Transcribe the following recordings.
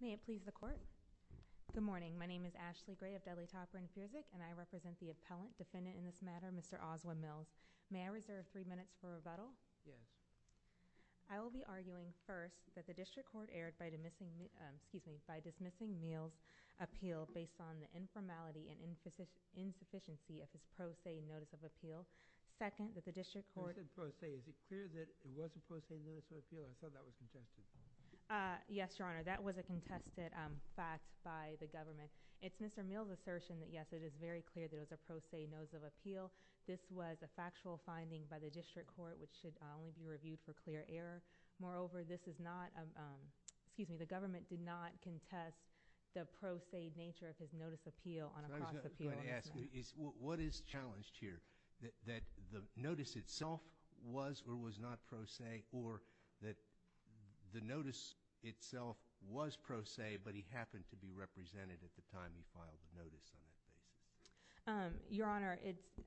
May I please the court? Good morning. My name is Ashley Gray of Dudley-Topper & Fuzik, and I represent the appellant defendant in this matter, Mr. Oswin Mills. May I reserve three minutes for rebuttal? Yes. I will be arguing, first, that the district court erred by dismissing Mills' appeal based on the informality and insufficiency of his pro se notice of appeal, and, second, that the district court— You said pro se. Is it clear that it was a pro se notice of appeal? I thought that was contested. Yes, Your Honor, that was a contested fact by the government. It's Mr. Mills' assertion that, yes, it is very clear that it was a pro se notice of appeal. This was a factual finding by the district court, which should only be reviewed for clear error. Moreover, this is not—excuse me, the government did not contest the pro se nature of his notice of appeal on a cross appeal. I was going to say that the notice itself was or was not pro se, or that the notice itself was pro se, but he happened to be represented at the time he filed the notice on that basis. Your Honor, it's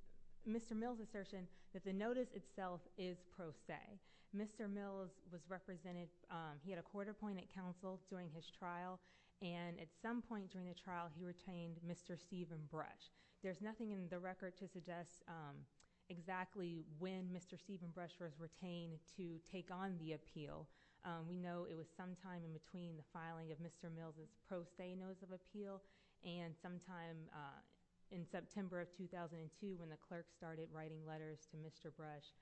Mr. Mills' assertion that the notice itself is pro se. Mr. Mills was represented—he had a quarter point at counsel during his trial, and at some point during the trial he retained Mr. Steven Brush. There's nothing in the record to suggest exactly when Mr. Steven Brush was retained to take on the appeal. We know it was sometime in between the filing of Mr. Mills' pro se notice of appeal and sometime in September of 2002 when the clerk started writing letters to Mr. Brush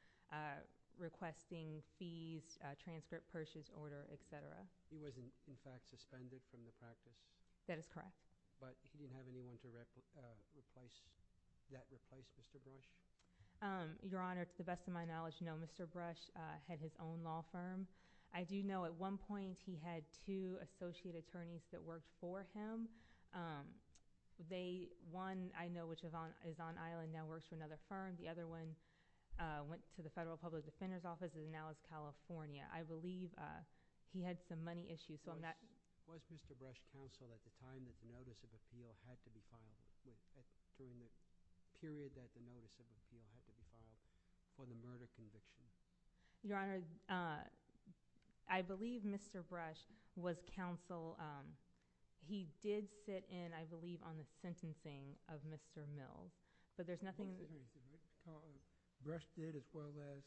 requesting fees, transcript, purchase order, et cetera. He wasn't, in fact, suspended from the practice? That is correct. But he didn't have anyone to replace—that replaced Mr. Brush? Your Honor, to the best of my knowledge, no. Mr. Brush had his own law firm. I do know at one point he had two associate attorneys that worked for him. They—one, I know, which is on Island now works for another firm. The other one went to the Federal Public Defender's Office and now is California. I believe he had some money issues on that— Was Mr. Brush counsel at the time that the notice of appeal had to be filed, during the period that the notice of appeal had to be filed, for the murder conviction? Your Honor, I believe Mr. Brush was counsel. He did sit in, I believe, on the sentencing of Mr. Mills, but there's nothing— Mr. Brush did, as well as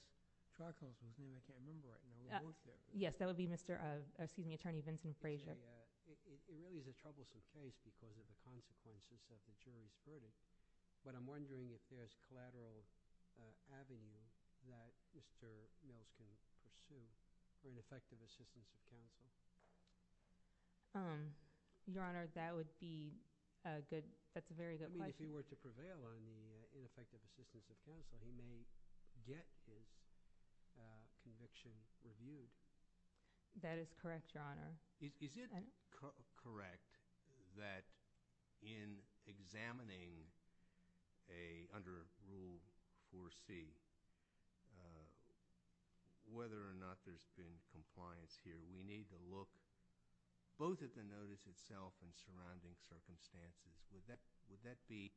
trial counsel. His name I can't remember right now. Yes, that would be Mr.—excuse me, Attorney Vincent Frazier. It really is a troublesome case because of the consequences of the jury's verdict, but I'm wondering if there's collateral avenue that Mr. Mills can pursue for ineffective assistance of counsel. Your Honor, that would be a good—that's a very good question. I mean, if he were to prevail on the ineffective assistance of counsel, he may get his conviction reviewed. That is correct, Your Honor. Is it correct that in examining a—under Rule 4C, whether or not there's been compliance here, we need to look both at the notice itself and surrounding circumstances. Would that be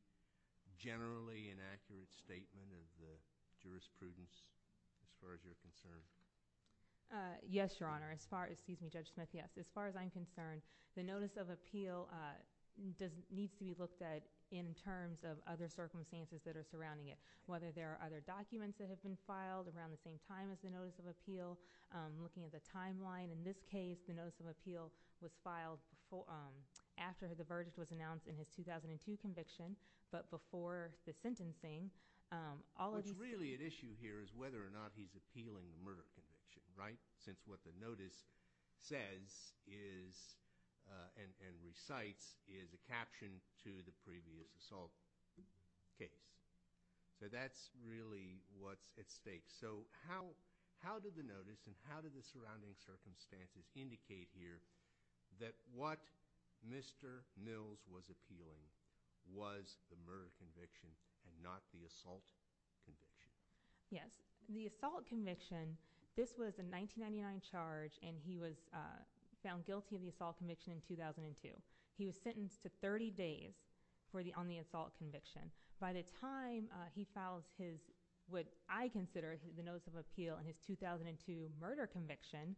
generally an accurate statement of the jurisprudence as far as you're concerned? Yes, Your Honor. As far as—excuse me, Judge Smith, yes. As far as I'm concerned, the notice of appeal needs to be looked at in terms of other circumstances that are surrounding it, whether there are other documents that have been filed around the same time as the notice of appeal, looking at the timeline. In this case, the notice of appeal was filed after the verdict was announced in his 2002 conviction, but before the sentencing, all of these— What's really at issue here is whether or not he's appealing the murder conviction, right? Since what the notice says is—and recites—is a caption to the previous assault case. So that's really what's at stake. So how did the notice and how did the surrounding circumstances indicate here that what Mr. Mills was appealing was the murder conviction and not the assault conviction? Yes. The assault conviction, this was a 1999 charge, and he was found guilty of the assault conviction in 2002. He was sentenced to 30 days on the assault conviction. By the time he files what I consider the notice of appeal in his 2002 murder conviction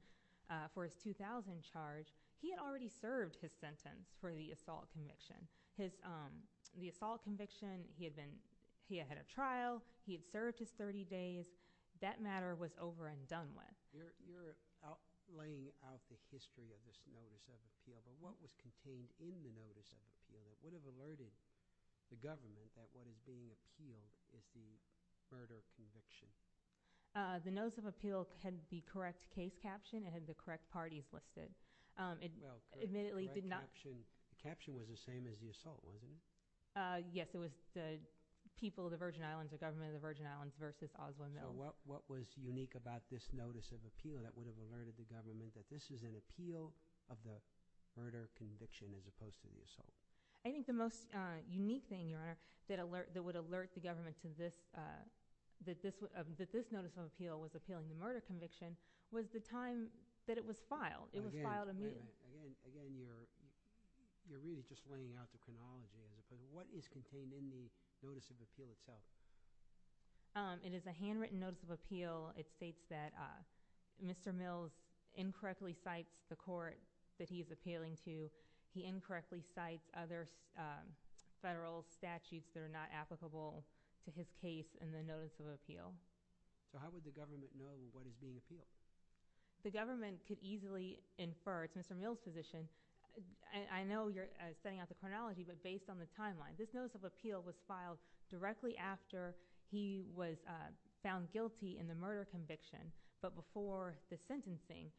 for his 2000 charge, he had already served his sentence for the assault conviction. The assault conviction, he had a trial. He had served his 30 days. That matter was over and done with. You're laying out the history of this notice of appeal, but what was contained in the notice of appeal that would have alerted the government that what is being appealed is the murder conviction? The notice of appeal had the correct case caption. It had the correct parties listed. It admittedly did not— The caption was the same as the assault, wasn't it? Yes. It was the people of the Virgin Islands, the government of the Virgin Islands versus Oswald Mills. So what was unique about this notice of appeal that would have alerted the government that this is an appeal of the murder conviction as opposed to the assault? I think the most unique thing, Your Honor, that would alert the government that this notice of appeal was appealing the murder conviction was the time that it was filed. It was filed immediately. Again, you're really just laying out the chronology. What is contained in the notice of appeal itself? It is a handwritten notice of appeal. It states that Mr. Mills incorrectly cites the court that he is appealing to. He incorrectly cites other federal statutes that are not applicable to his case in the notice of appeal. So how would the government know what is being appealed? The government could easily infer—it's Mr. Mills' position. I know you're setting out the chronology, but based on the timeline, this notice of appeal was filed directly after he was found guilty in the murder conviction, but before the sentencing.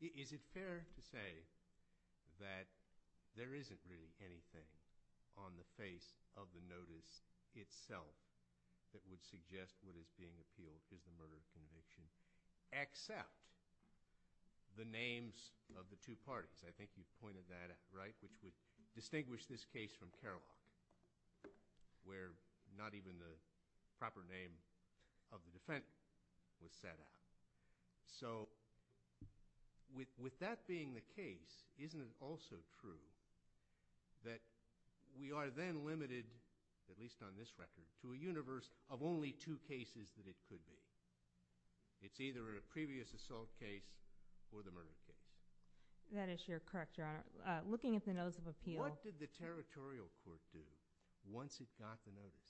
Is it fair to say that there isn't really anything on the face of the notice itself that would suggest what is being appealed is the murder conviction, except the names of the two parties? I think you pointed that out, right? Which would distinguish this case from Kerloch, where not even the proper name of the defendant was set out. So with that being the case, isn't it also true that we are then limited, at least on this record, to a universe of only two cases that it could be? It's either a previous assault case or the murder case. That is sure correct, Your Honor. Looking at the notice of appeal— What did the Territorial Court do once it got the notice?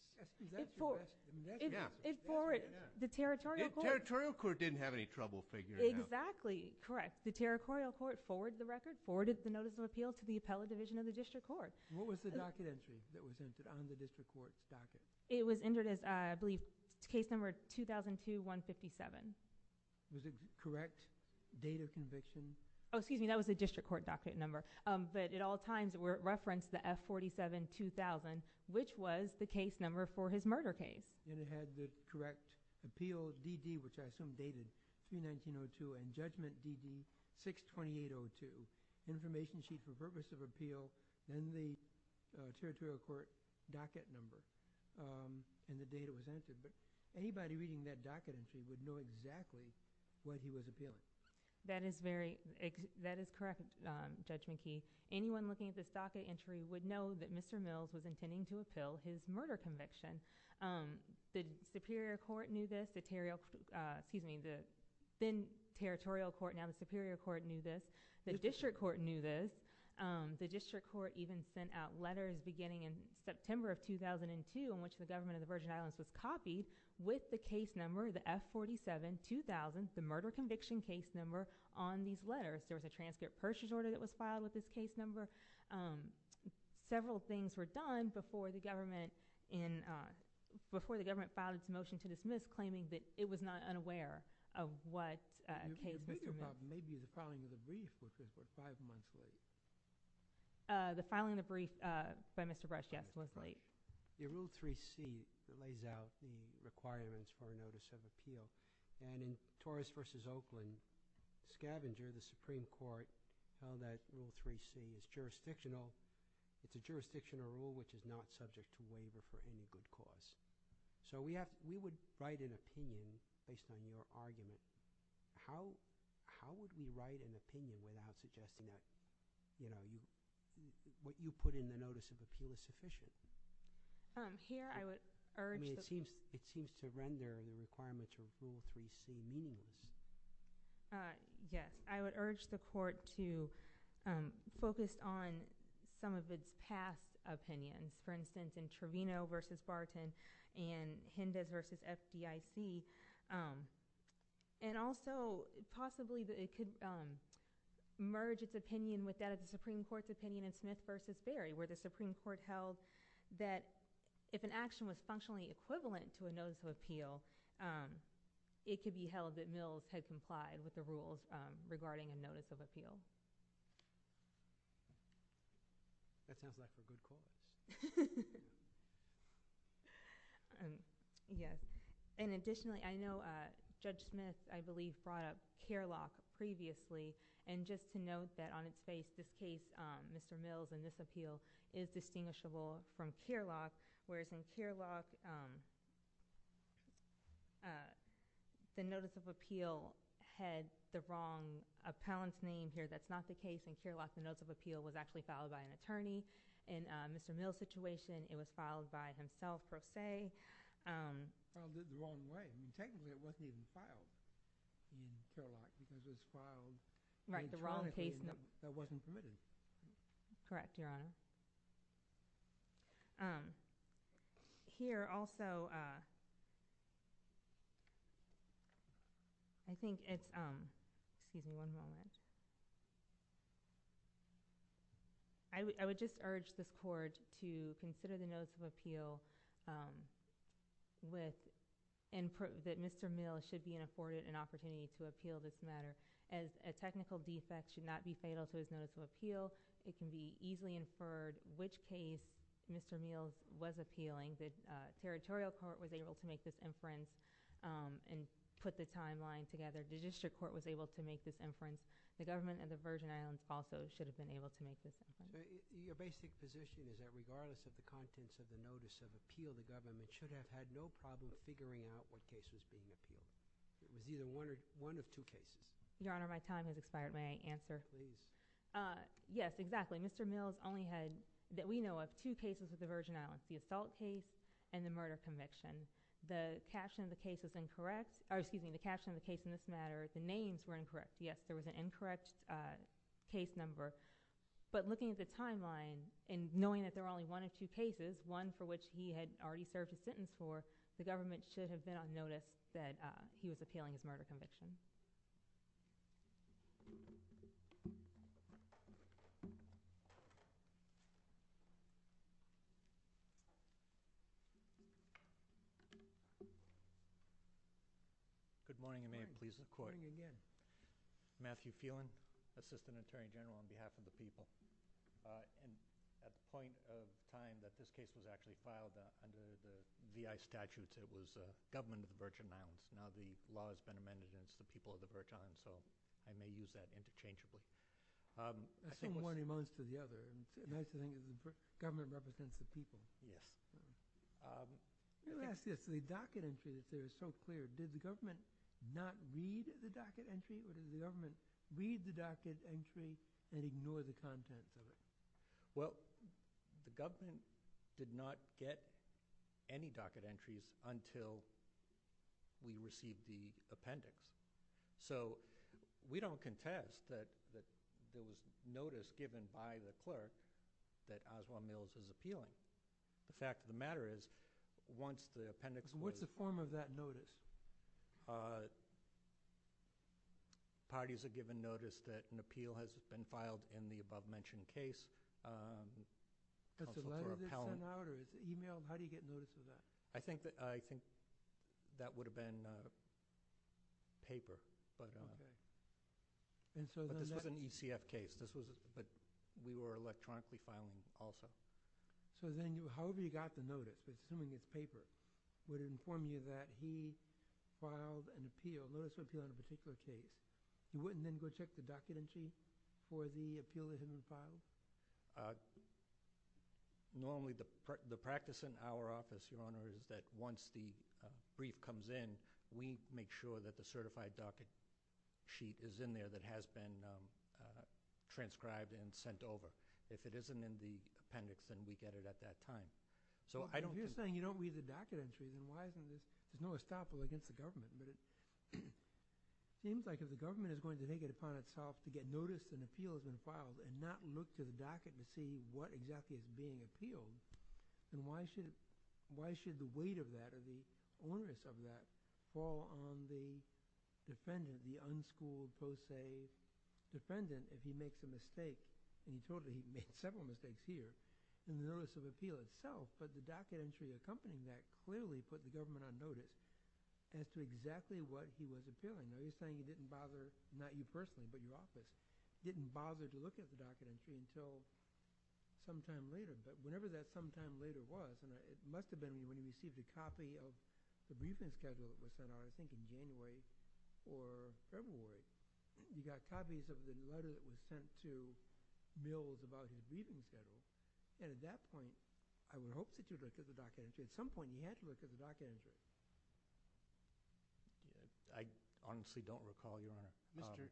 The Territorial Court didn't have any trouble figuring it out. Exactly. Correct. The Territorial Court forwarded the record, forwarded the notice of appeal to the Appellate Division of the District Court. What was the docket entry that was entered on the District Court's docket? It was entered as, I believe, case number 2002-157. Was it a correct date of conviction? Oh, excuse me, that was the District Court docket number. But at all times, it referenced the F-47-2000, which was the case number for his murder case. And it had the correct appeal DD, which I assume dated 3-19-02, and judgment DD 6-28-02, information sheet for purpose of appeal, then the Territorial Court docket number, and the date it was entered. But anybody reading that docket entry would know exactly what he was appealing. That is correct, Judge McKee. Anyone looking at this docket entry would know that Mr. Mills was intending to appeal his murder conviction. The Superior Court knew this, the then Territorial Court, now the Superior Court knew this, the District Court knew this, the District Court even sent out letters beginning in September of 2002 in which the government of the Virgin Islands was copied with the case number, the F-47-2000, the murder conviction case number on these letters. There was a transcript purchase order that was filed with this case number. Several things were done before the government filed its motion to dismiss, claiming that it was not unaware of what case Mr. Mills— The bigger problem may be the filing of the brief, which was about five months late. The filing of the brief by Mr. Brush, yes, was late. The Rule 3C lays out the requirements for a notice of appeal. And in Torres v. Oakland, Scavenger, the Supreme Court, held that Rule 3C is jurisdictional. It's a jurisdictional rule which is not subject to waiver for any good cause. So we would write an opinion based on your argument. How would we write an opinion without suggesting that, you know, Here I would urge— I mean, it seems to render the requirements of Rule 3C meaningless. Yes. I would urge the Court to focus on some of its past opinions, for instance, in Trevino v. Barton and Hindes v. FDIC, and also possibly that it could merge its opinion with that of the Supreme Court's opinion in Smith v. Berry, where the Supreme Court held that if an action was functionally equivalent to a notice of appeal, it could be held that Mills had complied with the rules regarding a notice of appeal. That sounds like a good cause. Yes. And additionally, I know Judge Smith, I believe, brought up Kerlock previously. And just to note that on its face, this case, Mr. Mills and this appeal, is distinguishable from Kerlock, whereas in Kerlock, the notice of appeal had the wrong appellant's name here. That's not the case in Kerlock. The notice of appeal was actually filed by an attorney. In Mr. Mills' situation, it was filed by himself, per se. Well, it did it the wrong way. Technically, it wasn't even filed in Kerlock because it was filed by an attorney that wasn't permitted. Correct, Your Honor. Here, also, I think it's—excuse me one moment. I would just urge this Court to consider the notice of appeal with— and prove that Mr. Mills should be afforded an opportunity to appeal this matter. A technical defect should not be fatal to his notice of appeal. It can be easily inferred which case Mr. Mills was appealing. The Territorial Court was able to make this inference and put the timeline together. The District Court was able to make this inference. The government and the Virgin Islands also should have been able to make this inference. Your basic position is that regardless of the contents of the notice of appeal, the government should have had no problem figuring out what case was being appealed. It was either one of two cases. Your Honor, my time has expired. May I answer? Please. Yes, exactly. Mr. Mills only had, that we know of, two cases with the Virgin Islands, the assault case and the murder conviction. The caption of the case was incorrect— excuse me, the caption of the case in this matter, the names were incorrect. Yes, there was an incorrect case number. But looking at the timeline and knowing that there were only one of two cases, one for which he had already served his sentence for, the government should have been on notice that he was appealing his murder conviction. Good morning, and may it please the Court. Good morning again. Matthew Phelan, Assistant Attorney General on behalf of the people. At the point of time that this case was actually filed under the VI statutes, it was government of the Virgin Islands. Now the law has been amended and it's the people of the Virgin Islands, so I may use that interchangeably. One amounts to the other. It's nice to think that the government represents the people. Yes. Let me ask this. The docket entry that's there is so clear. Did the government not read the docket entry, or did the government read the docket entry and ignore the contents of it? Well, the government did not get any docket entries until we received the appendix. So we don't contest that there was notice given by the clerk that Oswald Mills is appealing. The fact of the matter is once the appendix was— What's the form of that notice? Parties are given notice that an appeal has been filed in the above-mentioned case. Does the letter get sent out, or is it emailed? How do you get notice of that? I think that would have been paper, but this was an ECF case. We were electronically filing also. So then however you got the notice, assuming it's paper, would it inform you that he filed a notice of appeal on a particular case? You wouldn't then go check the docket entry for the appeal that had been filed? Normally the practice in our office, Your Honor, is that once the brief comes in, we make sure that the certified docket sheet is in there that has been transcribed and sent over. If it isn't in the appendix, then we get it at that time. If you're saying you don't read the docket entry, then why isn't this— there's no estoppel against the government. But it seems like if the government is going to take it upon itself to get notice an appeal has been filed and not look to the docket to see what exactly is being appealed, then why should the weight of that or the onerous of that fall on the defendant, the unschooled, post-save defendant, if he makes a mistake, and you told me he made several mistakes here, in the notice of appeal itself. But the docket entry accompanying that clearly put the government on notice as to exactly what he was appealing. Now you're saying he didn't bother, not you personally, but your office, didn't bother to look at the docket entry until sometime later. But whenever that sometime later was— and it must have been when he received a copy of the briefing schedule that was sent out, I think in January or February, you got copies of the letter that was sent to Mills about his briefing schedule. And at that point, I would hope that you would look at the docket entry. At some point, you had to look at the docket entry. I honestly don't recall, Your Honor. Mr.—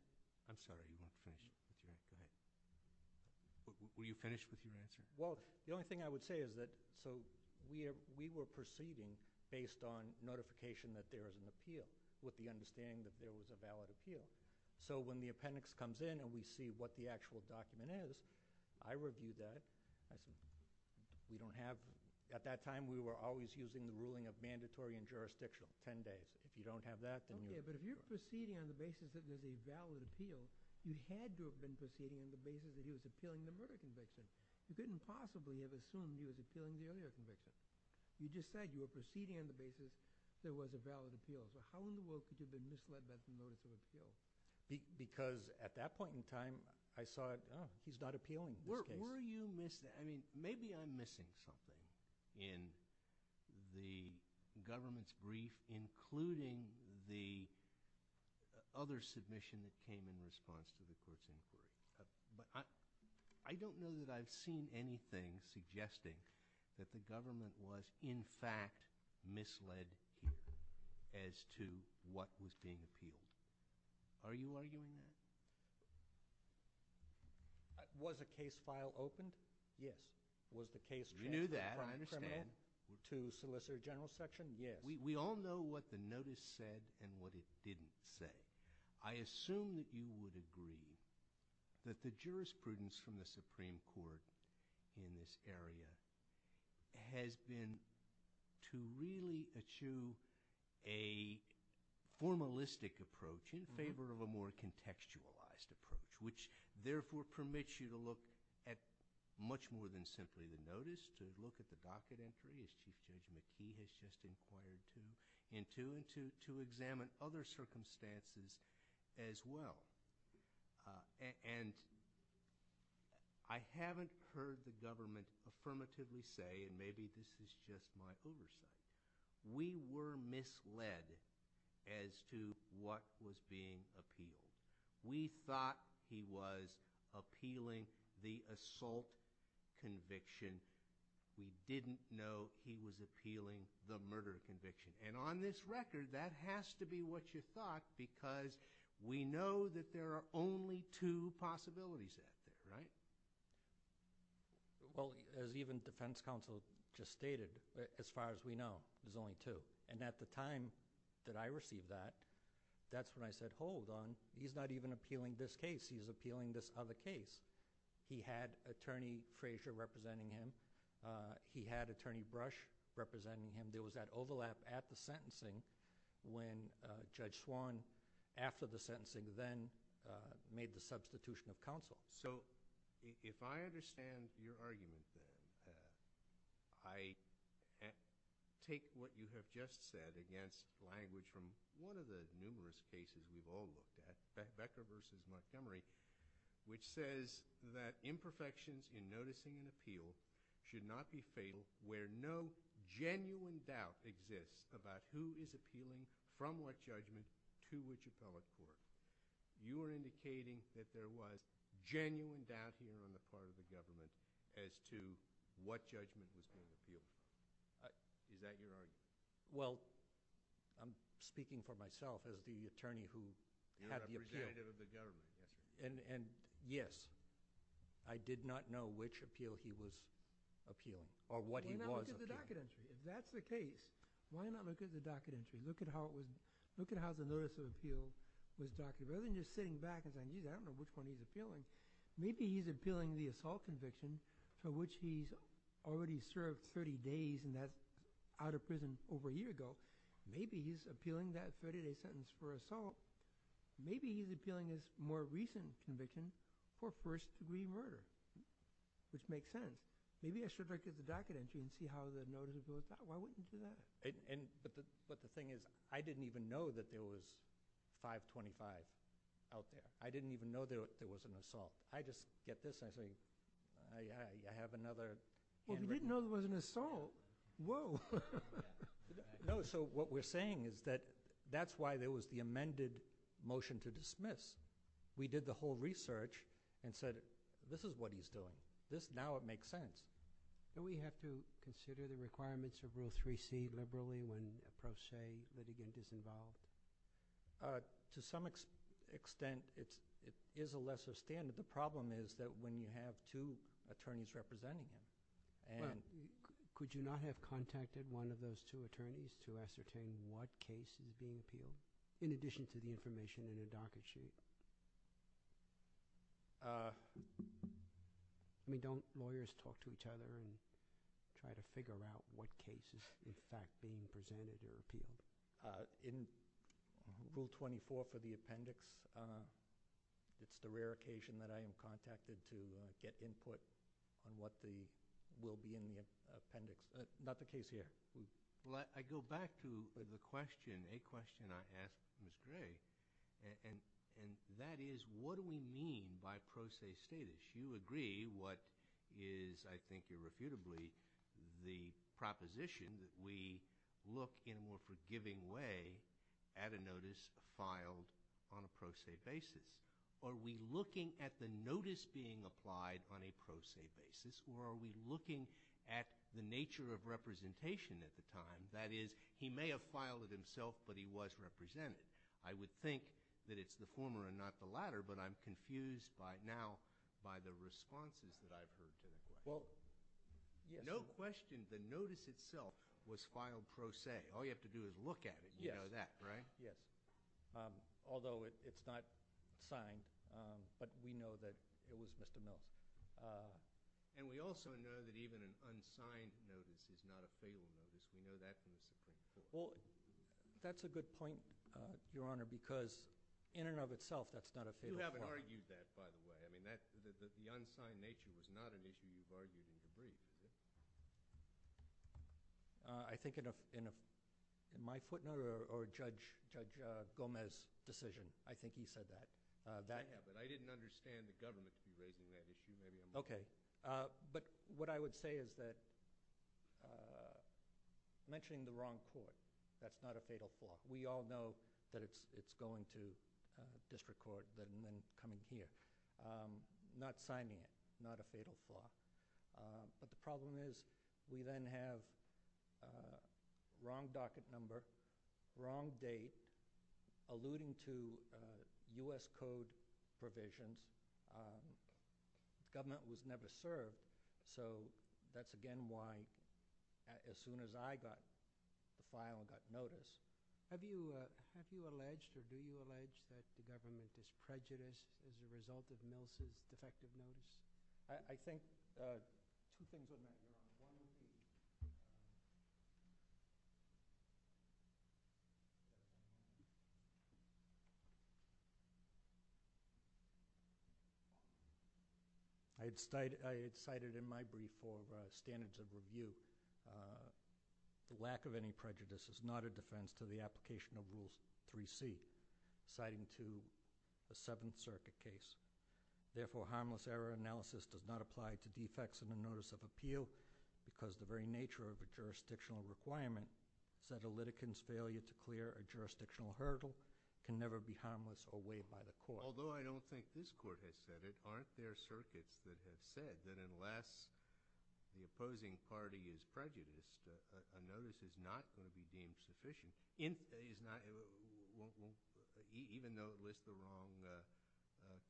I'm sorry, you want to finish? Go ahead. Were you finished with your answer? Well, the only thing I would say is that— so we were proceeding based on notification that there is an appeal with the understanding that there was a valid appeal. So when the appendix comes in and we see what the actual document is, I review that. I say, we don't have— at that time, we were always using the ruling of mandatory and jurisdictional, 10 days. If you don't have that, then you're— Okay, but if you're proceeding on the basis that there's a valid appeal, you had to have been proceeding on the basis that he was appealing the murder conviction. You couldn't possibly have assumed he was appealing the earlier conviction. You just said you were proceeding on the basis there was a valid appeal. So how in the world could you have been misled by the notice of appeal? Because at that point in time, I saw it, oh, he's not appealing this case. Were you—I mean, maybe I'm missing something in the government's brief, including the other submission that came in response to the court's inquiry. But I don't know that I've seen anything suggesting that the government was, in fact, misled here as to what was being appealed. Are you arguing that? Was a case file opened? Yes. Was the case transferred— You knew that. I understand. —to Solicitor General's section? Yes. We all know what the notice said and what it didn't say. I assume that you would agree that the jurisprudence from the Supreme Court in this area has been to really achieve a formalistic approach in favor of a more contextualized approach, which therefore permits you to look at much more than simply the notice, to look at the docket entry, as Chief Judge McKee has just inquired to, and to examine other circumstances as well. And I haven't heard the government affirmatively say—and maybe this is just my oversight— we were misled as to what was being appealed. We thought he was appealing the assault conviction. We didn't know he was appealing the murder conviction. And on this record, that has to be what you thought because we know that there are only two possibilities out there, right? Well, as even defense counsel just stated, as far as we know, there's only two. And at the time that I received that, that's when I said, hold on, he's not even appealing this case. He's appealing this other case. He had Attorney Frazier representing him. He had Attorney Brush representing him. There was that overlap at the sentencing when Judge Swan, after the sentencing, then made the substitution of counsel. So if I understand your argument, then, I take what you have just said against language from one of the numerous cases we've all looked at, Becker v. Montgomery, which says that imperfections in noticing an appeal should not be fatal where no genuine doubt exists about who is appealing from what judgment to which appellate court. You are indicating that there was genuine doubt here on the part of the government as to what judgment was being appealed. Is that your argument? Well, I'm speaking for myself as the attorney who had the appeal. You're representative of the government, yes, sir. And yes, I did not know which appeal he was appealing or what he was appealing. Why not look at the docket entry? If that's the case, why not look at the docket entry? Look at how the notice of appeal was docketed. Rather than just sitting back and saying, geez, I don't know which one he's appealing, maybe he's appealing the assault conviction for which he's already served 30 days and that's out of prison over a year ago. Maybe he's appealing that 30-day sentence for assault. Maybe he's appealing his more recent conviction for first-degree murder, which makes sense. Maybe I should look at the docket entry and see how the notice of appeal is done. Why wouldn't you do that? But the thing is, I didn't even know that there was 525 out there. I didn't even know there was an assault. I just get this and I say, I have another handwritten— Well, if you didn't know there was an assault, whoa. No, so what we're saying is that that's why there was the amended motion to dismiss. We did the whole research and said, this is what he's doing. Now it makes sense. Do we have to consider the requirements of Rule 3C liberally when a pro se litigant is involved? To some extent, it is a lesser standard. The problem is that when you have two attorneys representing him and— Could you not have contacted one of those two attorneys to ascertain what case is being appealed, in addition to the information in a docket sheet? I mean, don't lawyers talk to each other and try to figure out what case is, in fact, being presented or appealed? In Rule 24 for the appendix, it's the rare occasion that I am contacted to get input on what will be in the appendix. Not the case here. I go back to the question, a question I asked Ms. Gray, and that is, what do we mean by pro se status? You agree what is, I think irrefutably, the proposition that we look in a more forgiving way at a notice filed on a pro se basis. Are we looking at the notice being applied on a pro se basis, or are we looking at the nature of representation at the time? That is, he may have filed it himself, but he was represented. I would think that it's the former and not the latter, but I'm confused now by the responses that I've heard to that question. Well, yes. No question the notice itself was filed pro se. All you have to do is look at it. Yes. You know that, right? Yes. Although it's not signed, but we know that it was Mr. Mills. And we also know that even an unsigned notice is not a fatal notice. We know that from the Supreme Court. Well, that's a good point, Your Honor, because in and of itself, that's not a fatal point. You haven't argued that, by the way. I mean, the unsigned nature was not an issue you've argued in your brief, is it? I think in my footnote or Judge Gomez's decision, I think he said that. Yeah, but I didn't understand the government to be raising that issue. Maybe I'm wrong. Okay. But what I would say is that mentioning the wrong court, that's not a fatal flaw. We all know that it's going to district court and then coming here. Not signing it, not a fatal flaw. But the problem is we then have wrong docket number, wrong date, alluding to U.S. Code provisions. The government was never served. So that's, again, why as soon as I got the file and got notice. Have you alleged or do you allege that the government is prejudiced as a result of Mills's defective notice? I had cited in my brief for standards of review the lack of any prejudice is not a defense to the application of Rules 3C, citing to the Seventh Circuit case. Therefore, harmless error analysis does not apply to defects in the notice of appeal because the very nature of a jurisdictional requirement said a litigant's failure to clear a jurisdictional hurdle can never be harmless or weighed by the court. Although I don't think this court has said it, aren't there circuits that have said that unless the opposing party is prejudiced, a notice is not going to be deemed sufficient even though it lists the wrong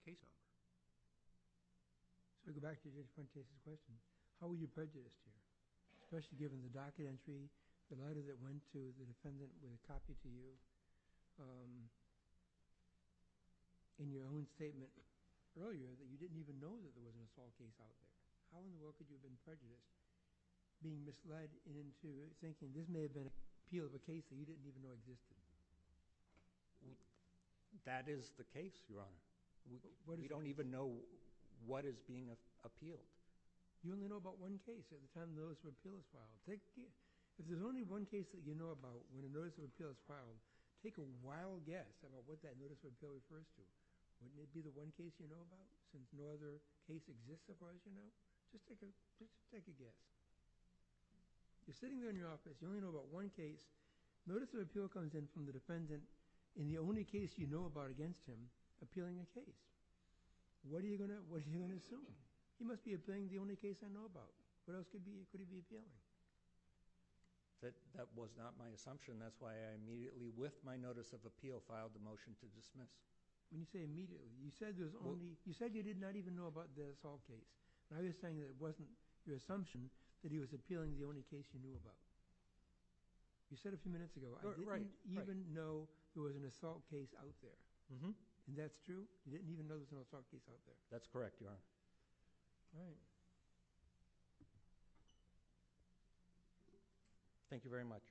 case number? So to go back to Judge Prentice's question, how were you prejudiced here? Especially given the docket entry, the letter that went to the defendant with a copy to you, and your own statement earlier that you didn't even know that there was an assault case out there. How in the world could you have been prejudiced, being misled into thinking this may have been an appeal of a case that you didn't even know existed? That is the case, Your Honor. We don't even know what is being appealed. You only know about one case at the time the notice of appeal is filed. If there's only one case that you know about when a notice of appeal is filed, take a wild guess about what that notice of appeal refers to. Wouldn't it be the one case you know about since no other case exists as far as you know? Just take a guess. You're sitting there in your office. You only know about one case. Notice of appeal comes in from the defendant in the only case you know about against him appealing a case. What are you going to assume? He must be appealing the only case I know about. What else could he be appealing? That was not my assumption. That's why I immediately, with my notice of appeal, filed the motion to dismiss. When you say immediately, you said you did not even know about the assault case. Now you're saying it wasn't your assumption that he was appealing the only case you knew about. You said a few minutes ago, I didn't even know there was an assault case out there. And that's true? You didn't even know there was an assault case out there? That's correct, Your Honor. All right. Thank you very much.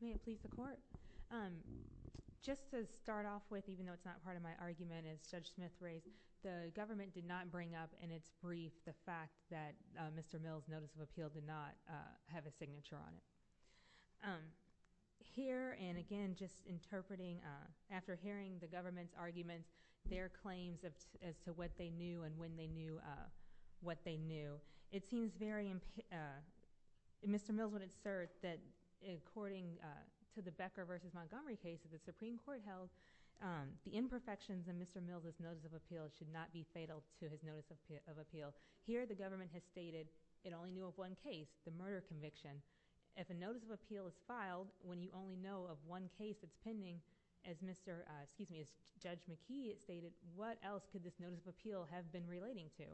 May it please the Court? Just to start off with, even though it's not part of my argument as Judge Smith raised, the government did not bring up in its brief the fact that Mr. Mill's notice of appeal did not have a signature on it. Here, and again, just interpreting after hearing the government's arguments, their claims as to what they knew and when they knew what they knew, it seems very—Mr. Mill's would insert that according to the Becker v. Montgomery case that the Supreme Court held, the imperfections in Mr. Mill's notice of appeal should not be fatal to his notice of appeal. Here, the government has stated it only knew of one case, the murder conviction. If a notice of appeal is filed when you only know of one case that's pending, as Judge McKee stated, what else could this notice of appeal have been relating to?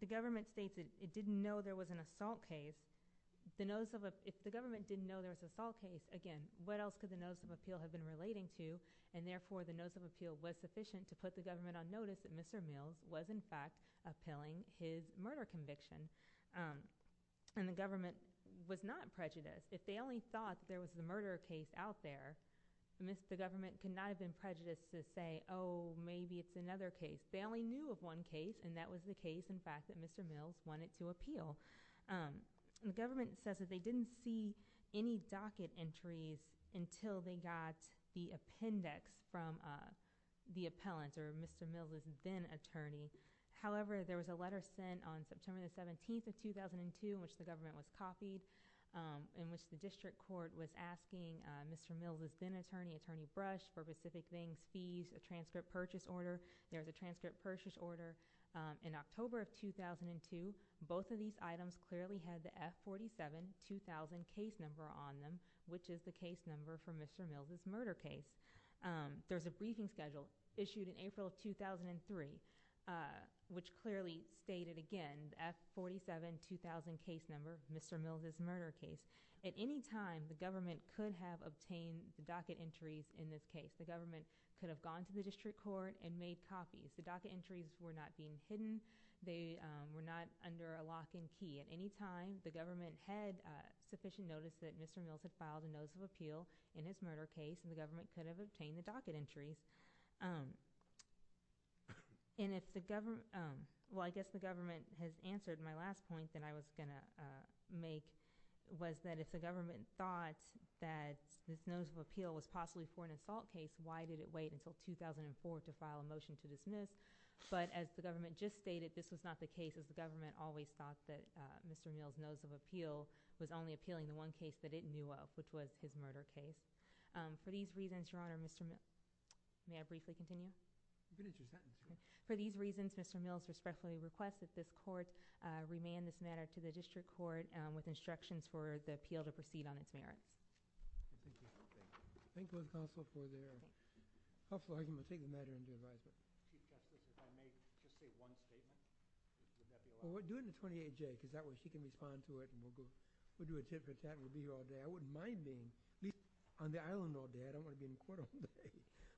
The government states it didn't know there was an assault case. If the government didn't know there was an assault case, again, what else could the notice of appeal have been relating to? And therefore, the notice of appeal was sufficient to put the government on notice that Mr. Mill's was, in fact, appealing his murder conviction. And the government was not prejudiced. If they only thought there was a murder case out there, the government could not have been prejudiced to say, oh, maybe it's another case. They only knew of one case, and that was the case, in fact, that Mr. Mill's wanted to appeal. The government says that they didn't see any docket entries until they got the appendix from the appellant, or Mr. Mill's then-attorney. However, there was a letter sent on September the 17th of 2002 in which the government was copied in which the district court was asking Mr. Mill's then-attorney, Attorney Brush, for specific things, fees, a transcript purchase order. There was a transcript purchase order in October of 2002. Both of these items clearly had the F47-2000 case number on them, which is the case number for Mr. Mill's murder case. There was a briefing schedule issued in April of 2003, which clearly stated, again, the F47-2000 case number, Mr. Mill's murder case. At any time, the government could have obtained the docket entries in this case. The government could have gone to the district court and made copies. The docket entries were not being hidden. They were not under a lock and key. At any time, the government had sufficient notice that Mr. Mill's had filed a notice of appeal in his murder case, and the government could have obtained the docket entries. I guess the government has answered my last point that I was going to make, was that if the government thought that this notice of appeal was possibly for an assault case, why did it wait until 2004 to file a motion to dismiss? But as the government just stated, this was not the case, as the government always thought that Mr. Mill's notice of appeal was only appealing the one case that it knew of, which was his murder case. For these reasons, Your Honor, Mr. Mill's respectfully requests that this court remand this matter to the district court with instructions for the appeal to proceed on its merits. Thank you. Thank you, counsel, for your helpful argument. Take the matter into advisement. Chief Justice, if I may just say one statement, would that be allowed? Well, do it in the 28-J, because that way she can respond to it, and we'll do a tit-for-tat, and we'll be here all day. I wouldn't mind being at least on the island all day. I don't want to be in court all day.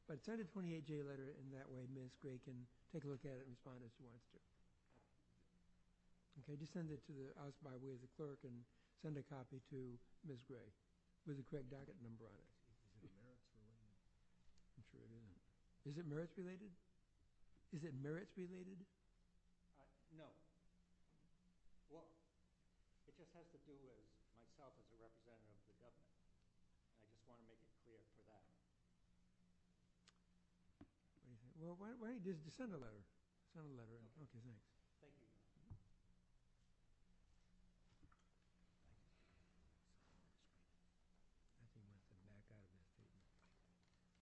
But send a 28-J letter, and that way Ms. Gray can take a look at it and respond as she wants to. Just send it to us by way of the clerk and send a copy to Ms. Gray with the correct docket number on it. Is it merits-related? I'm sure it isn't. Is it merits-related? Is it merits-related? No. Well, it just has to do with myself as a representative of the government. I just want to make it clear for that. Well, why don't you just send a letter. Send a letter. Okay, thanks. Thank you.